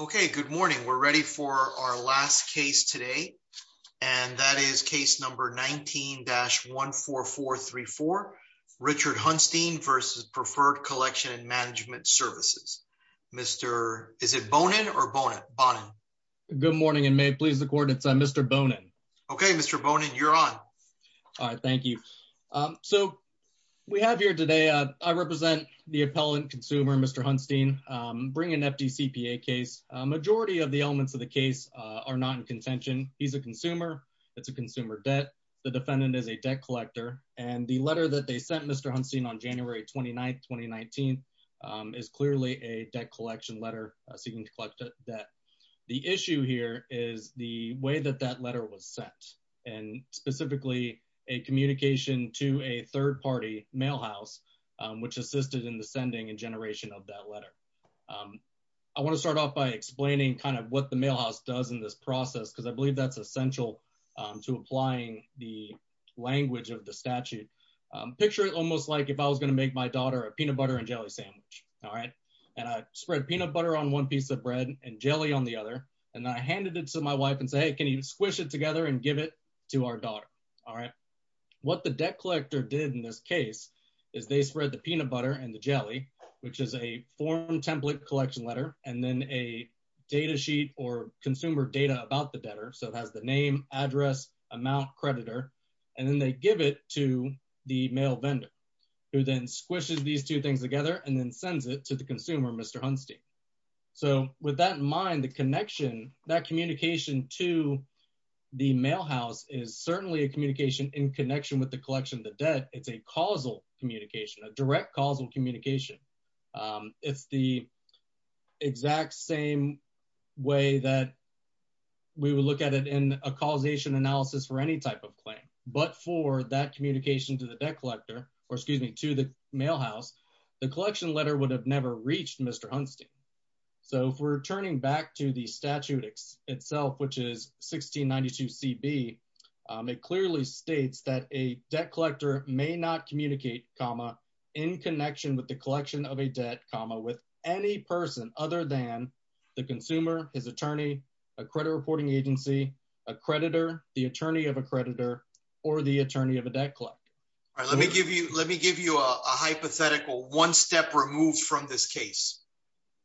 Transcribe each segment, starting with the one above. Okay, good morning. We're ready for our last case today, and that is case number 19-14434, Richard Hunstein v. Preferred Collection and Management Services. Mr., is it Bonin or Bonin? Good morning, and may it please the court, it's Mr. Bonin. Okay, Mr. Bonin, you're on. All right, thank you. So, we have here today, I represent the appellant consumer, Mr. Hunstein, bring an FDCPA case. Majority of the elements of the case are not in contention. He's a consumer, it's a consumer debt, the defendant is a debt collector, and the letter that they sent Mr. Hunstein on January 29th, 2019, is clearly a debt collection letter, seeking to collect debt. The issue here is the way that that letter was sent, and specifically, a communication to a consumer. I want to start off by explaining kind of what the mail house does in this process, because I believe that's essential to applying the language of the statute. Picture it almost like if I was going to make my daughter a peanut butter and jelly sandwich, all right? And I spread peanut butter on one piece of bread and jelly on the other, and I handed it to my wife and say, hey, can you squish it together and give it to our daughter? All right? What the debt collector did in this case is they spread the peanut butter and the jelly, which is a form template collection letter, and then a data sheet or consumer data about the debtor, so it has the name, address, amount, creditor, and then they give it to the mail vendor, who then squishes these two things together and then sends it to the consumer, Mr. Hunstein. So with that in mind, the connection, that communication to the mail house is certainly a communication in connection with the collection of the debt. It's a causal communication, a direct causal communication. It's the exact same way that we would look at it in a causation analysis for any type of claim, but for that communication to the debt collector, or excuse me, to the mail house, the collection letter would have never reached Mr. Hunstein. So if we're turning back to the statute itself, which is 1692CB, it clearly states that a debt collector may not communicate, comma, in connection with the collection of a debt, comma, with any person other than the consumer, his attorney, a credit reporting agency, a creditor, the attorney of a creditor, or the attorney of a debt collector. All right, let me give you a hypothetical one step removed from this case.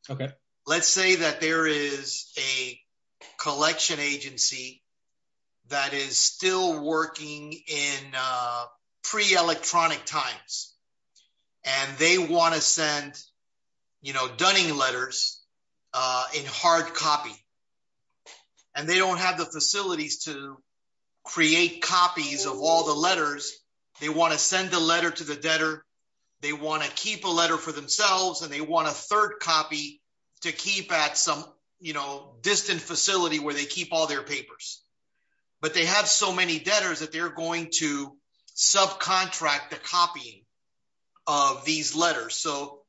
Okay. Let's say that there is a collection agency that is still working in pre-electronic times, and they want to send, you know, dunning letters in hard copy, and they don't have the facilities to create copies of all the letters. They want to send the letter to the debtor. They want to keep a letter for themselves, and they want a third copy to keep at some, you know, distant facility where they keep all their papers, but they have so many debtors that they're going to subcontract the copying of these letters. So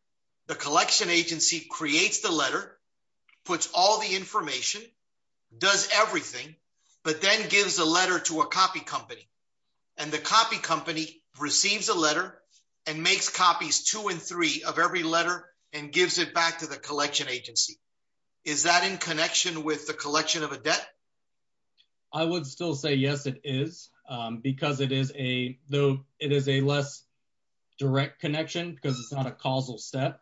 the collection agency creates the letter, puts all the information, does everything, but then gives a letter to a copy company, and the copy company receives a letter and makes copies two and three of every letter and gives it back to the collection agency. Is that in connection with the collection of a debt? I would still say yes, it is, because it is a, though it is a less direct connection because it's not a causal step,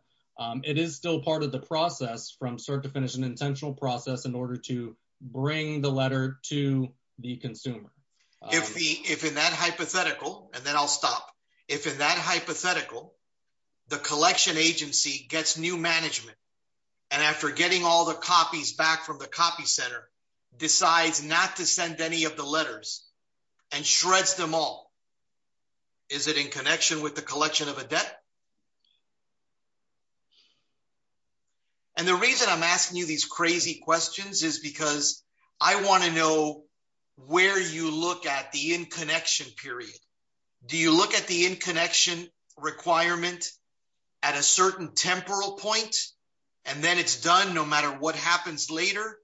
it is still part of the process from start to finish, an intentional process in order to bring the letter to the consumer. If the, if in that hypothetical, and then I'll stop, if in that hypothetical, the collection agency gets new management, and after getting all the copies back from the copy center, decides not to send any of the letters and shreds them all, is it in connection with the collection of a debt? And the reason I'm asking you these crazy questions is because I want to know where you look at the in-connection period. Do you look at the in-connection requirement at a certain temporal point, and then it's done no matter what happens later,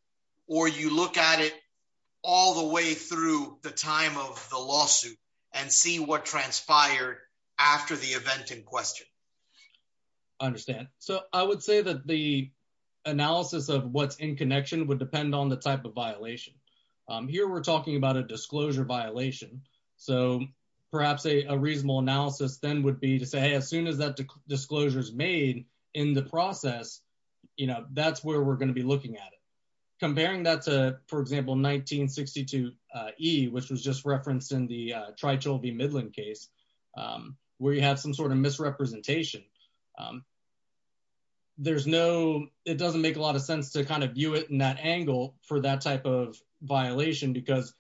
or you look at it all the way through the time of the lawsuit and see what transpired after the event in question. I understand. So I would say that the analysis of what's in connection would depend on the type of violation. Here we're talking about a disclosure violation, so perhaps a reasonable analysis then would be to say, as soon as that disclosure is made in the process, you know, that's where we're going to be looking at it. Comparing that to, for example, 1962E, which was just referenced in the presentation, it doesn't make a lot of sense to kind of view it in that angle for that type of violation because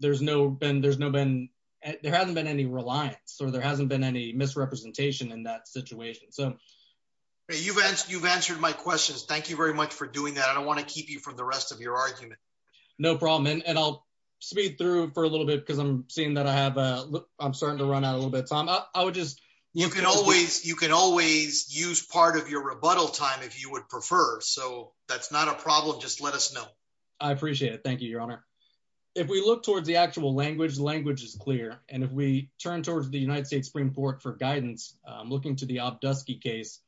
there hasn't been any reliance or there hasn't been any misrepresentation in that situation. You've answered my questions. Thank you very much for doing that. I don't want to keep you from the rest of your argument. No problem, and I'll speed through for a little bit because I'm seeing that I'm starting to run out of a little bit of time. You can always use part of your rebuttal time if you would prefer. So that's not a problem. Just let us know. I appreciate it. Thank you, Your Honor. If we look towards the actual language, language is clear. And if we turn towards the United States Supreme Court for guidance, looking to the Obdusky case,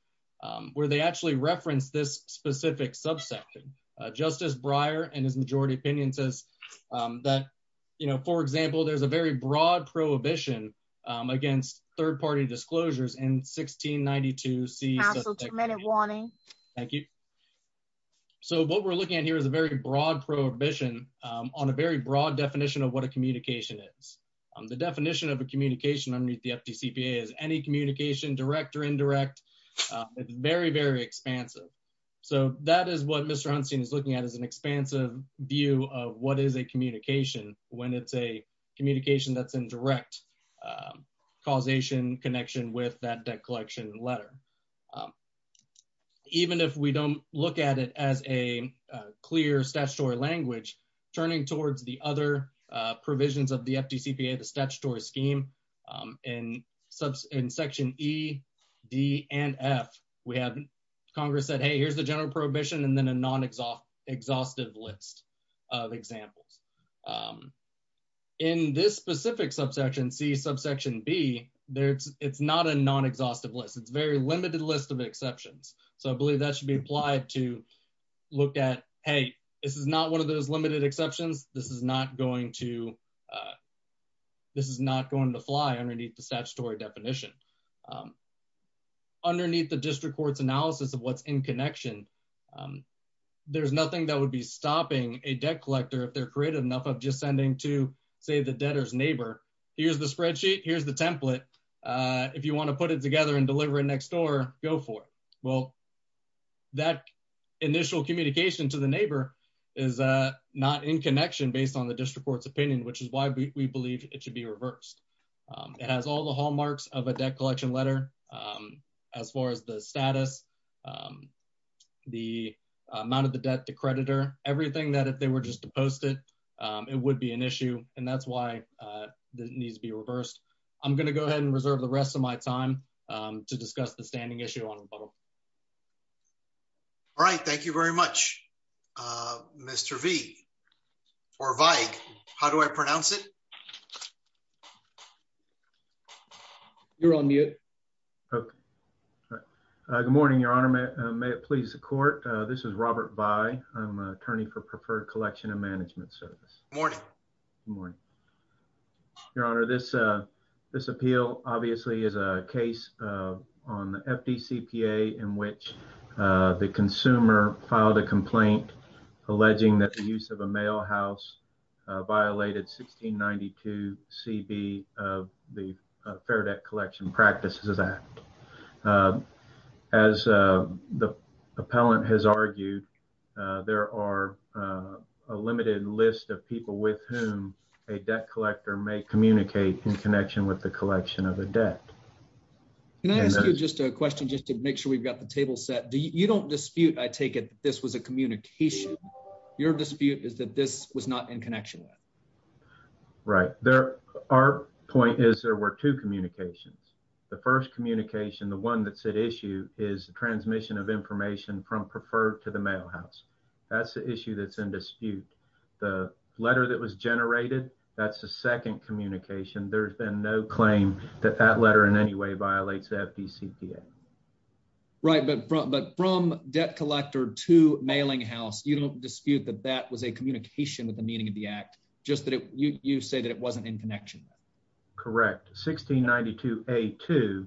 where they actually referenced this specific subsection, Justice Breyer and his majority opinion says that, you know, for example, there's a very broad prohibition against third-party disclosures in 1692. Council, two-minute warning. Thank you. So what we're looking at here is a very broad prohibition on a very broad definition of what a communication is. The definition of a communication under the FDCPA is any communication, direct or indirect, is very, very expansive. So that is what Mr. Einstein is looking at as an expansive view of what is a communication when it's a communication that's in direct causation connection with that debt collection letter. Even if we don't look at it as a clear statutory language, turning towards the other provisions of the FDCPA, the statutory scheme in section E, D, and F, we have Congress said, hey, here's the general prohibition, and then a non-exhaustive list of examples. In this specific subsection, C, subsection B, it's not a non-exhaustive list. It's a very limited list of exceptions. So I believe that should be applied to look at, hey, this is not one of those limited exceptions. This is not going to fly underneath the statutory definition. Underneath the district court's analysis of what's in connection, there's nothing that would be stopping a debt collector if they're creative enough of just sending to, say, the debtor's neighbor, here's the spreadsheet, here's the template. If you want to put it together and deliver it next door, go for it. Well, that initial communication to the neighbor is not in connection based on the district court's opinion, which is why we believe it should be reversed. It has all the hallmarks of a collection letter as far as the status, the amount of the debt, the creditor, everything that if they were just to post it, it would be an issue, and that's why it needs to be reversed. I'm going to go ahead and reserve the rest of my time to discuss the standing issue on the bubble. All right. Thank you very much, Mr. V, or Veig. How do I pronounce it? Robert Vye. You're on mute. Okay. Good morning, Your Honor. May it please the court. This is Robert Vye. I'm an attorney for Preferred Collection and Management Service. Good morning. Good morning. Your Honor, this appeal obviously is a case on the FDCPA in which the consumer filed a complaint alleging that the use of a mail house violated 1692CB of the Fair Debt Collection Practices Act. As the appellant has argued, there are a limited list of people with whom a debt collector may communicate in connection with the collection of a debt. Can I ask you just a question just to make sure we've got the table set? You don't dispute, I take it, that this was a communication. Your dispute is that this was not in connection with. Right. Our point is there were two communications. The first communication, the one that's at issue, is the transmission of information from Preferred to the mail house. That's the issue that's in dispute. The letter that was generated, that's the second communication. There's been no claim that that letter in any way violates the FDCPA. Right. But from debt collector to mailing house, you don't dispute that that was a communication with the meaning of the act, just that you say that it wasn't in connection. Correct. 1692A2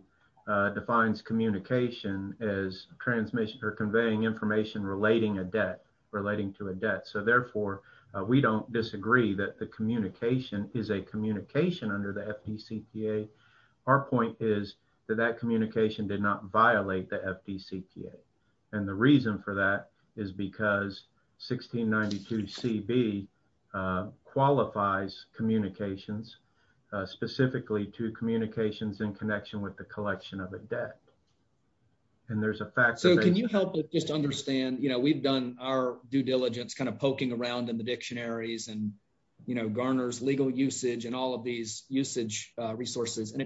defines communication as conveying information relating to a debt. So therefore, we don't disagree that the communication is a communication under the FDCPA. Our point is that that communication did not violate the FDCPA. And the reason for that is because 1692CB qualifies communications specifically to communications in connection with the collection of a debt. And there's a fact that- So can you help us just understand, we've done our due diligence kind of poking around in the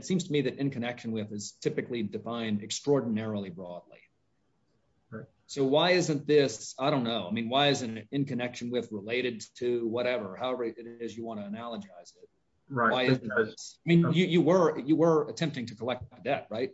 seems to me that in connection with is typically defined extraordinarily broadly. So why isn't this, I don't know, I mean, why isn't it in connection with related to whatever, however it is you want to analogize it? Right. I mean, you were attempting to collect a debt, right?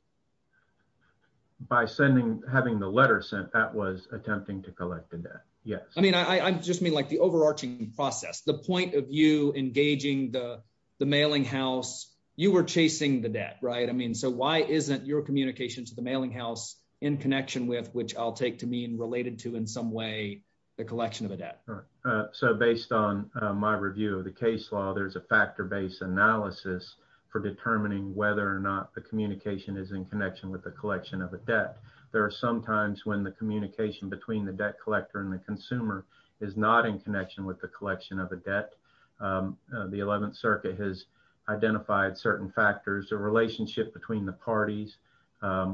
By sending, having the letter sent, that was attempting to collect the debt. Yes. I mean, I just mean like the overarching process, the point of you engaging the mailing house, you were chasing the debt, right? I mean, so why isn't your communication to the mailing house in connection with, which I'll take to mean related to in some way the collection of a debt? Right. So based on my review of the case law, there's a factor-based analysis for determining whether or not the communication is in connection with the collection of a debt. There are some times when the communication between the debt collector and the consumer is not in connection with the collection of a debt. The 11th circuit has identified certain factors, a relationship between the parties,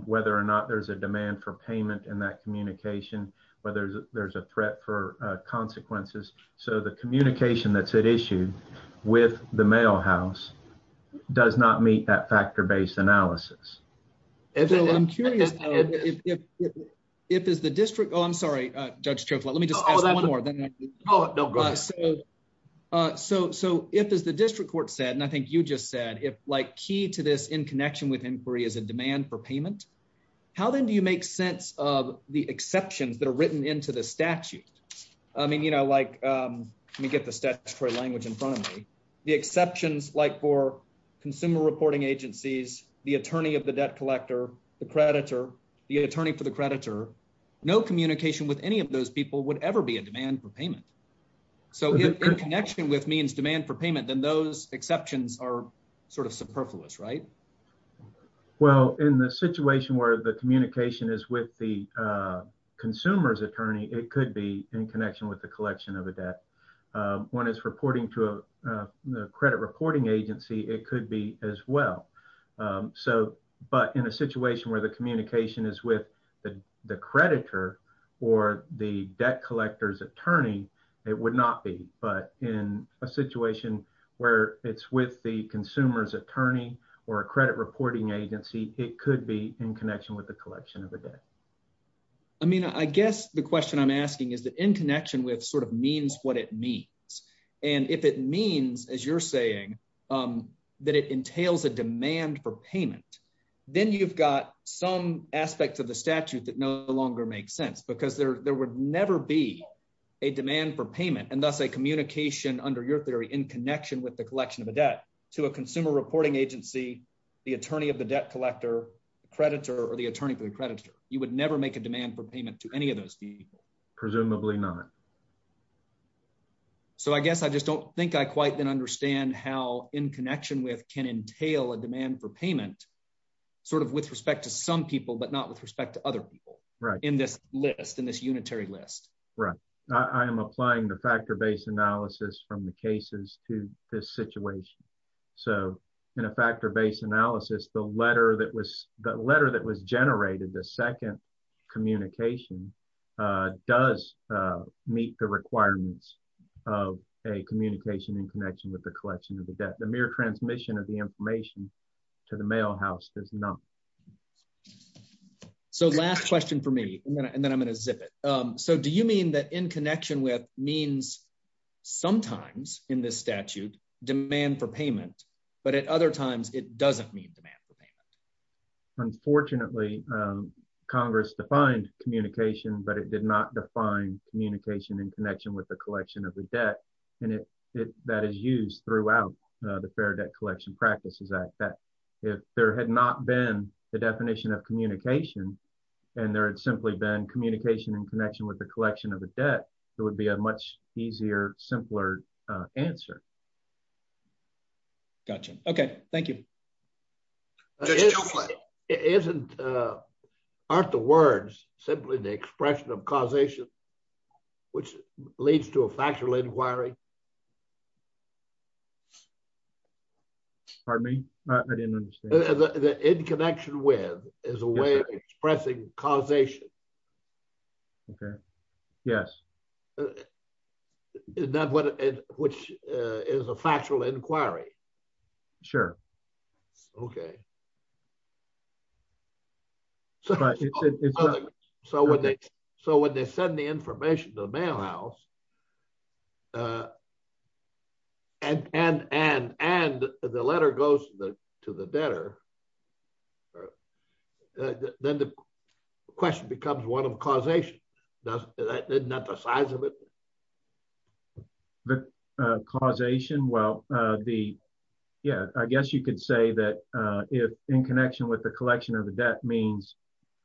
whether or not there's a demand for payment in that communication, whether there's a threat for consequences. So the communication that's at issue with the mail house does not meet that factor-based analysis. Bill, I'm curious, if it's the district, oh, I'm sorry, Judge Chokla, let me just ask one more. So if, as the district court said, and I think you just said, if like key to this in connection with inquiry is a demand for payment, how then do you make sense of the exceptions that are written into the statute? I mean, you know, like let me get the statutory language in front of me. The exceptions like for consumer reporting agencies, the attorney of the debt collector, the creditor, the attorney for the creditor, no communication with any of those people would ever be a demand for payment. So in connection with means demand for payment, then those exceptions are sort of superfluous, right? Well, in the situation where the communication is with the consumer's attorney, it could be in connection with the collection of a debt. When it's reporting to a credit reporting agency, it could be as well. But in a situation where the communication is with the creditor or the debt collector's attorney, it would not be. But in a situation where it's with the consumer's attorney or a credit reporting agency, it could be in connection with the collection of a debt. I mean, I guess the question I'm asking is that in connection with sort of means what it means. And if it means, as you're saying, that it entails a demand for payment, then you've got some aspects of the statute that no longer makes sense because there would never be a demand for payment and thus a communication under your theory in connection with the collection of a debt to a consumer reporting agency, the attorney of the debt collector, the creditor or the attorney for the creditor, you would never make a demand for payment to those people. Presumably not. So I guess I just don't think I quite then understand how in connection with can entail a demand for payment sort of with respect to some people, but not with respect to other people in this list, in this unitary list. Right. I am applying the factor based analysis from the cases to this situation. So in a factor based analysis, the letter that was the letter that was generated, the second communication does meet the requirements of a communication in connection with the collection of the debt. The mere transmission of the information to the mail house does not. So last question for me, and then I'm going to zip it. So do you mean that in connection with means sometimes in this statute demand for payment, but at other times it doesn't mean demand for payment? Unfortunately, Congress defined communication, but it did not define communication in connection with the collection of the debt. And if that is used throughout the Fair Debt Collection Practices Act, that if there had not been the definition of communication and there had simply been communication in connection with the collection of a debt, it would be a much easier, simpler answer. Gotcha. Okay. Thank you. Aren't the words simply the expression of causation, which leads to a factual inquiry? Pardon me? I didn't understand. The in connection with is a way of expressing causation. Okay. Yes. Which is a factual inquiry. Sure. Okay. So when they send the information to the mail house, and the letter goes to the debtor, then the question becomes one of causation. Isn't that the size of it? The causation? Well, yeah, I guess you could say that if in connection with the collection of the debt means...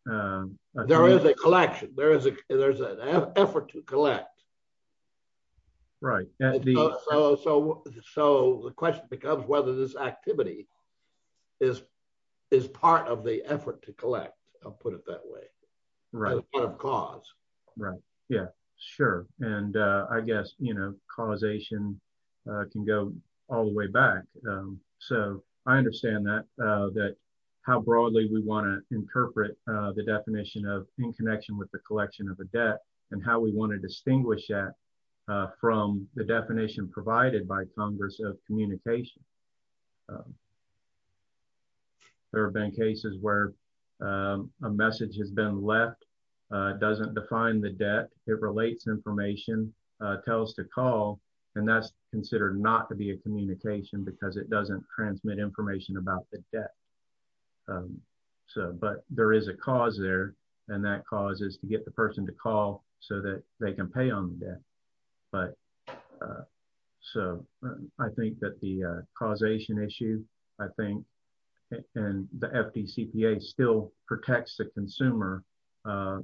There is a collection. There's an effort to collect. Right. So the question becomes whether this activity is part of the effort to collect, I'll put it that way, as part of cause. Right. Yeah, sure. And I guess causation can go all the way back. So I understand that how broadly we want to interpret the definition of in connection with the collection of a debt, and how we want to distinguish that from the definition provided by Congress of communication. There have been cases where a message has been left, doesn't define the debt, it relates information, tells to call, and that's considered not to be a communication because it doesn't transmit information about the debt. But there is a cause there, and that cause is to get the person to call so that they can pay on the debt. So I think that the causation issue, I think, and the FDCPA still protects the consumer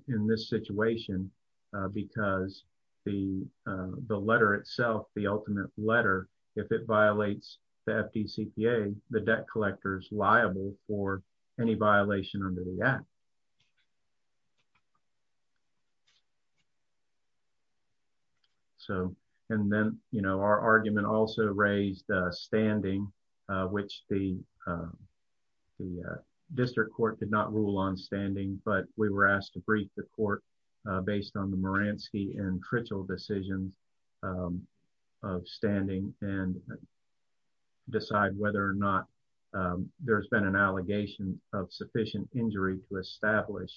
in this situation, because the letter itself, the ultimate letter, if it violates the FDCPA, the debt collector is liable for any violation under the act. So, and then, you know, our argument also raised standing, which the district court did not rule on standing, but we were asked to brief the court based on the Moransky and Tritchell decisions of standing and decide whether or not there's been an allegation of sufficient injury to establish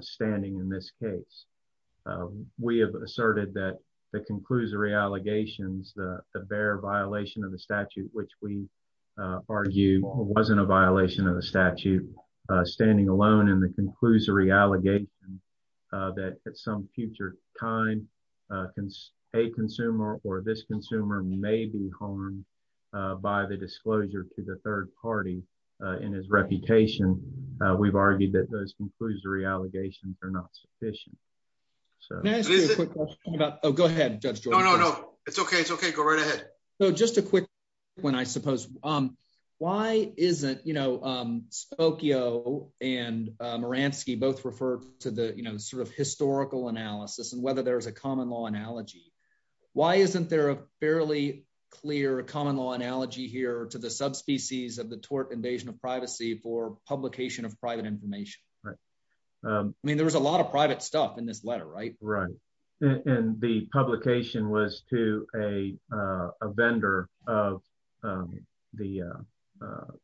standing in this case. We have asserted that the conclusory allegations, the bare violation of the statute, which we that at some future time, a consumer or this consumer may be harmed by the disclosure to the third party in his reputation, we've argued that those conclusory allegations are not sufficient. Oh, go ahead, Judge George. No, no, no, it's okay. It's okay. Go right ahead. So just a quick one, I suppose. Why isn't, you know, Spokio and Moransky both refer to the, you know, sort of historical analysis and whether there's a common law analogy. Why isn't there a fairly clear common law analogy here to the subspecies of the tort invasion of privacy for publication of private information? Right. I mean, there was a lot of private stuff in this letter, right? Right. And the publication was to a vendor of the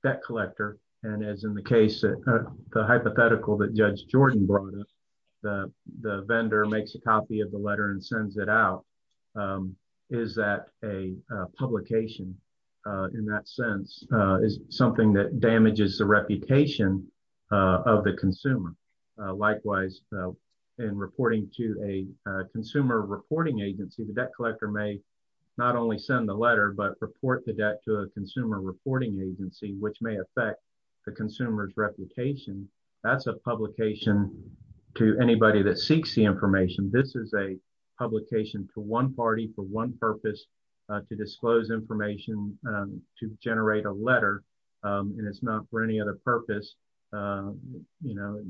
debt collector. And as in the hypothetical that Judge Jordan brought up, the vendor makes a copy of the letter and sends it out. Is that a publication in that sense, is something that damages the reputation of the consumer? Likewise, in reporting to a consumer reporting agency, the debt collector may not only send the letter but report the debt to a consumer reporting agency, which may affect the consumer's reputation. That's a publication to anybody that seeks the information. This is a publication to one party for one purpose, to disclose information, to generate a letter. And it's not for any other purpose. You know,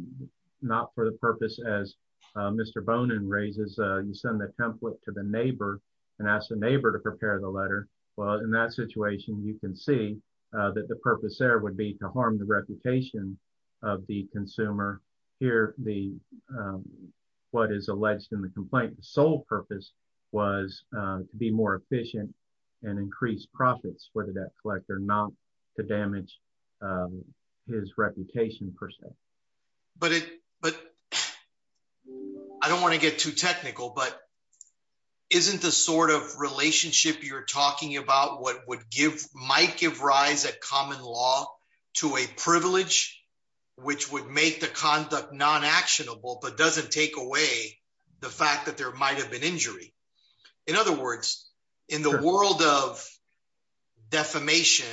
not for the purpose as Mr. Bonin raises, you send the template to the neighbor and ask the neighbor to prepare the letter. Well, in that situation, you can see that the purpose there would be to harm the reputation of the consumer. Here, what is alleged in the complaint, the sole purpose was to be more efficient and increase profits for the debt collector, not to damage his reputation per se. But I don't want to get too technical, but isn't the sort of relationship you're talking about might give rise at common law to a privilege, which would make the conduct non-actionable, but doesn't take away the fact that there might have been injury? In other words, in the world of defamation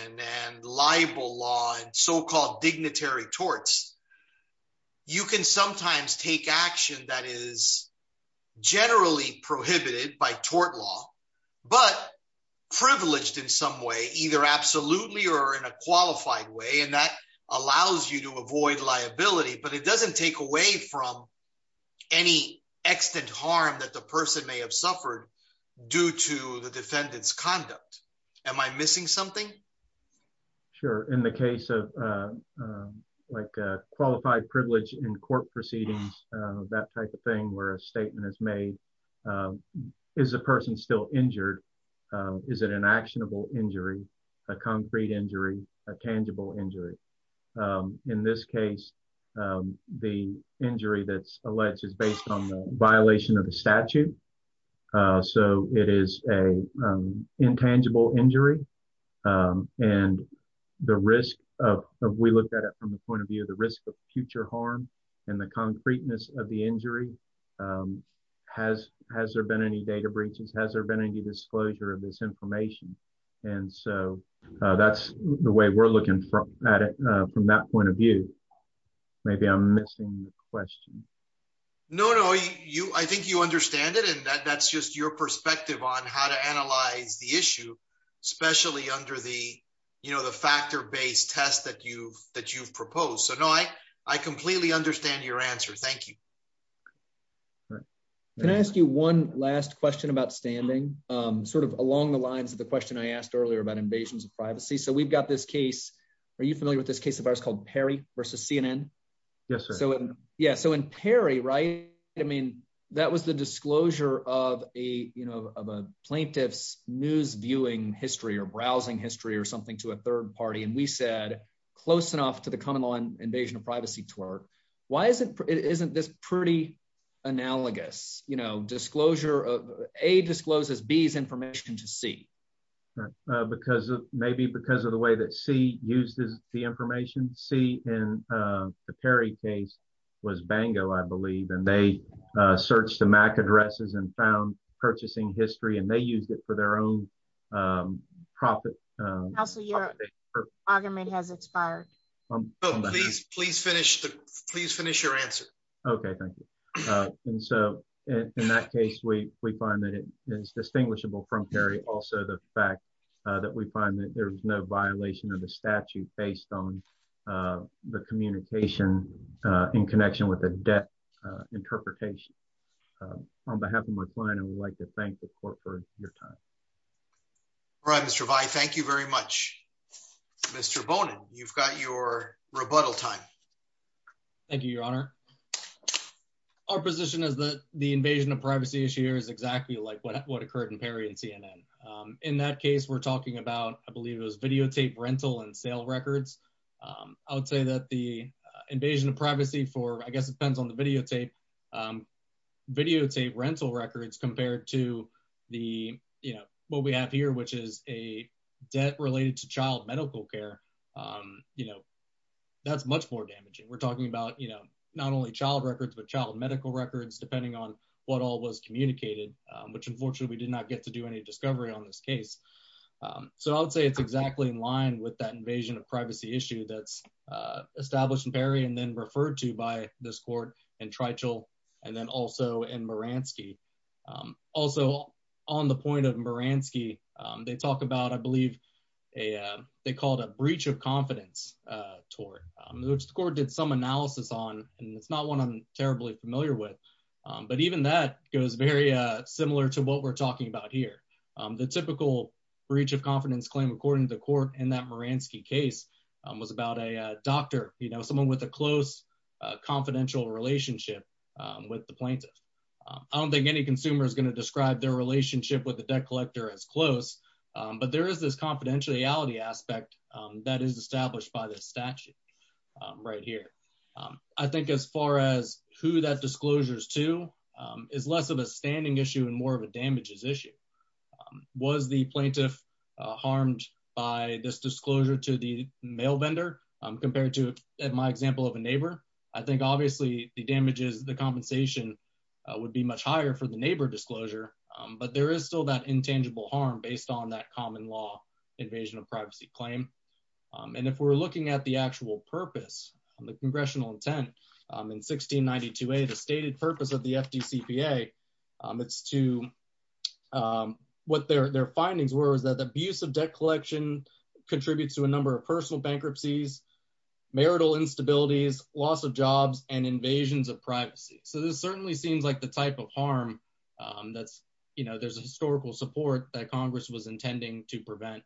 and libel law and so-called dignitary torts, you can sometimes take action that is but privileged in some way, either absolutely or in a qualified way. And that allows you to avoid liability, but it doesn't take away from any extent harm that the person may have suffered due to the defendant's conduct. Am I missing something? Sure. In the case of like a qualified privilege in court proceedings, that type of thing where statement is made, is the person still injured? Is it an actionable injury, a concrete injury, a tangible injury? In this case, the injury that's alleged is based on the violation of the statute. So it is a intangible injury. And the risk of we looked at it from the point of view of the risk of injury. Has there been any data breaches? Has there been any disclosure of this information? And so that's the way we're looking at it from that point of view. Maybe I'm missing the question. No, no. I think you understand it. And that's just your perspective on how to analyze the issue, especially under the factor-based test that you've proposed. So no, I completely understand your answer. Thank you. Can I ask you one last question about standing? Sort of along the lines of the question I asked earlier about invasions of privacy. So we've got this case. Are you familiar with this case of ours called Perry versus CNN? Yes, sir. Yeah. So in Perry, right? I mean, that was the disclosure of a plaintiff's news viewing history or browsing history or something to a third party. And we said, close enough to the common invasion of privacy twerk. Why isn't this pretty analogous? A discloses B's information to C. Maybe because of the way that C used the information. C in the Perry case was Bango, I believe. And they searched the MAC addresses and found purchasing history. And they used it for their own profit. Counselor, your argument has expired. Please finish your answer. Okay, thank you. And so in that case, we find that it is distinguishable from Perry. Also the fact that we find that there's no violation of the statute based on the communication in connection with a debt interpretation. On behalf of my client, I would like to thank the court for your time. All right, Mr. Vi, thank you very much. Mr. Bonin, you've got your rebuttal time. Thank you, your honor. Our position is that the invasion of privacy issue is exactly like what occurred in Perry and CNN. In that case, we're talking about, I believe it was videotape rental and sale records. I would say that the invasion of privacy for, I guess it depends on the videotape, videotape rental records compared to what we have here, which is a debt related to child medical care. That's much more damaging. We're talking about not only child records, but child medical records, depending on what all was communicated, which unfortunately we did not get to do any discovery on this case. So I would say it's exactly in line with that invasion of privacy issue that's established in this court in Trichel, and then also in Moransky. Also on the point of Moransky, they talk about, I believe they called a breach of confidence tort, which the court did some analysis on, and it's not one I'm terribly familiar with. But even that goes very similar to what we're talking about here. The typical breach of confidence claim, according to the case, was about a doctor, someone with a close confidential relationship with the plaintiff. I don't think any consumer is going to describe their relationship with the debt collector as close, but there is this confidentiality aspect that is established by this statute right here. I think as far as who that disclosure is to is less of a standing issue and more of a damages issue. Was the plaintiff harmed by this disclosure to the mail vendor compared to, in my example, of a neighbor? I think obviously the damages, the compensation would be much higher for the neighbor disclosure, but there is still that intangible harm based on that common law invasion of privacy claim. And if we're looking at the actual purpose, the congressional intent in 1692a, the stated purpose of the FDCPA, it's to, what their findings were is that the abuse of debt collection contributes to a number of personal bankruptcies, marital instabilities, loss of jobs, and invasions of privacy. So this certainly seems like the type of harm that's, you know, there's a historical support that Congress was intending to prevent.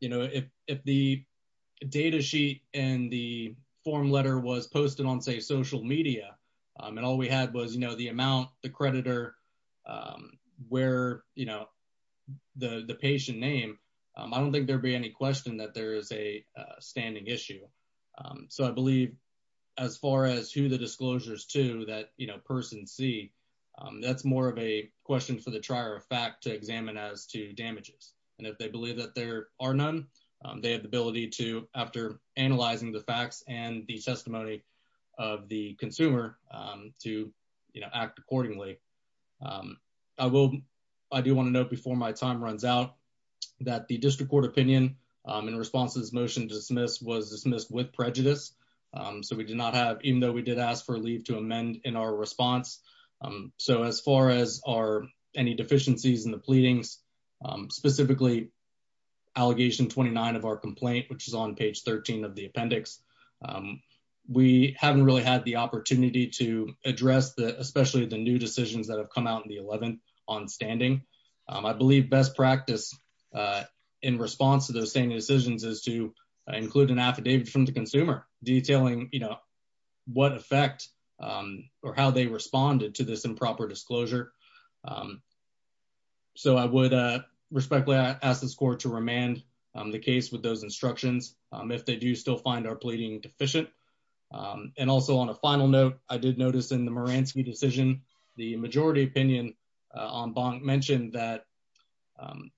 You know, if the data sheet and the form letter was posted on, say, social media, and all we had was, you know, the amount, the creditor, where, you know, the patient name, I don't think there'd be any question that there is a standing issue. So I believe as far as who the disclosure is to that, you know, person C, that's more of a question for the trier of fact to examine as to damages. And if they believe that there are none, they have the ability to, after analyzing the facts and the testimony of the consumer to, you know, act accordingly. I will, I do want to note before my time runs out, that the district court opinion in response to this motion to dismiss was dismissed with prejudice. So we did not have, even though we did ask for a leave to amend in our response. So as far as are any deficiencies in the pleadings, specifically allegation 29 of our complaint, which is on page 13 of the appendix, we haven't really had the opportunity to address the, especially the new decisions that have come out in the 11th on standing. I believe best practice in response to those same decisions is to include an affidavit from the consumer detailing, you know, what effect or how they responded to this improper disclosure. So I would respectfully ask this court to remand the case with those instructions, if they do still find our pleading deficient. And also on a final note, I did notice in the Moransky decision, the majority opinion on bond mentioned that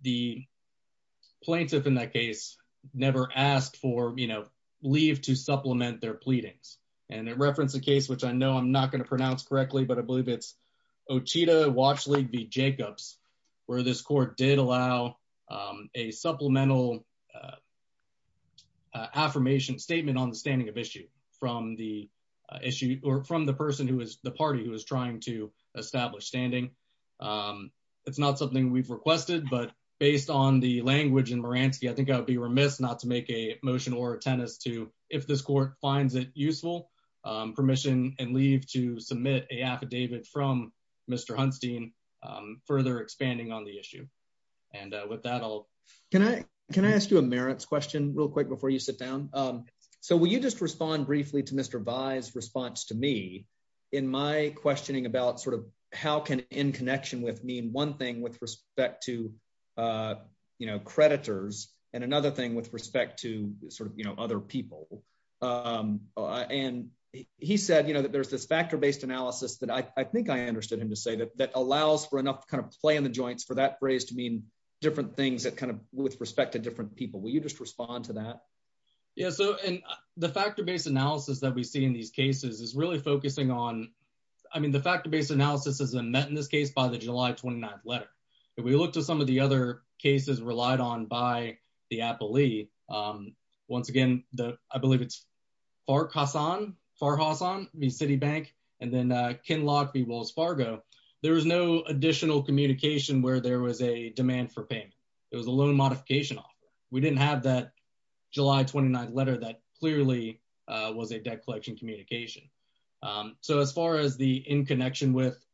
the plaintiff in that case never asked for, you know, leave to supplement their pleadings. And it referenced a case, which I know I'm not going to pronounce correctly, but I believe it's Otita Watch League v. Jacobs, where this court did allow a supplemental affirmation statement on the standing of issue from the issue or from the person who is the party who is trying to establish standing. It's not something we've requested, but based on the language in Moransky, I think I would be remiss not to make a motion or a tennis to if this court finds it useful, permission and leave to submit a affidavit from Mr. Hunstein, further expanding on the issue. And with that, I'll... Can I ask you a merits question real quick before you sit down? So will you just respond briefly to Mr. Vai's response to me in my questioning about sort of how can in connection with me and one thing with respect to, you know, creditors and another thing with respect to sort of, you know, other people. And he said, you know, that there's this factor-based analysis that I think I understood him to say that that allows for enough kind of play in the joints for that phrase to mean different things that kind of with respect to different people. Will you just respond to that? Yeah, so and the factor-based analysis that we see in these cases is really focusing on, I mean, the factor-based analysis isn't met in this case by the July 29th Once again, I believe it's Farhassan v. Citibank and then Kinloch v. Wells Fargo. There was no additional communication where there was a demand for payment. It was a loan modification offer. We didn't have that July 29th letter that clearly was a debt collection communication. So as far as the in connection with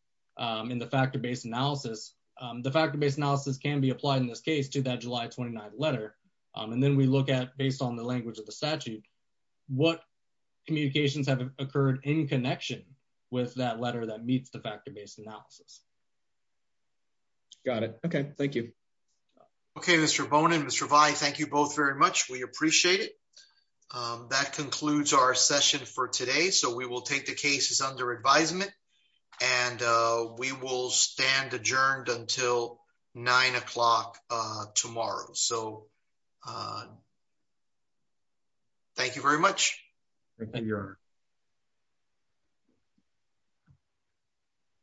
in the factor-based analysis, the factor-based analysis can be applied in this case to that July 29th letter. And then we look at, based on the language of the statute, what communications have occurred in connection with that letter that meets the factor-based analysis. Got it. Okay, thank you. Okay, Mr. Bohnen, Mr. Vai, thank you both very much. We appreciate it. That concludes our session for today. So we will take the cases under advisement and we will stand adjourned until nine o'clock tomorrow. So thank you very much.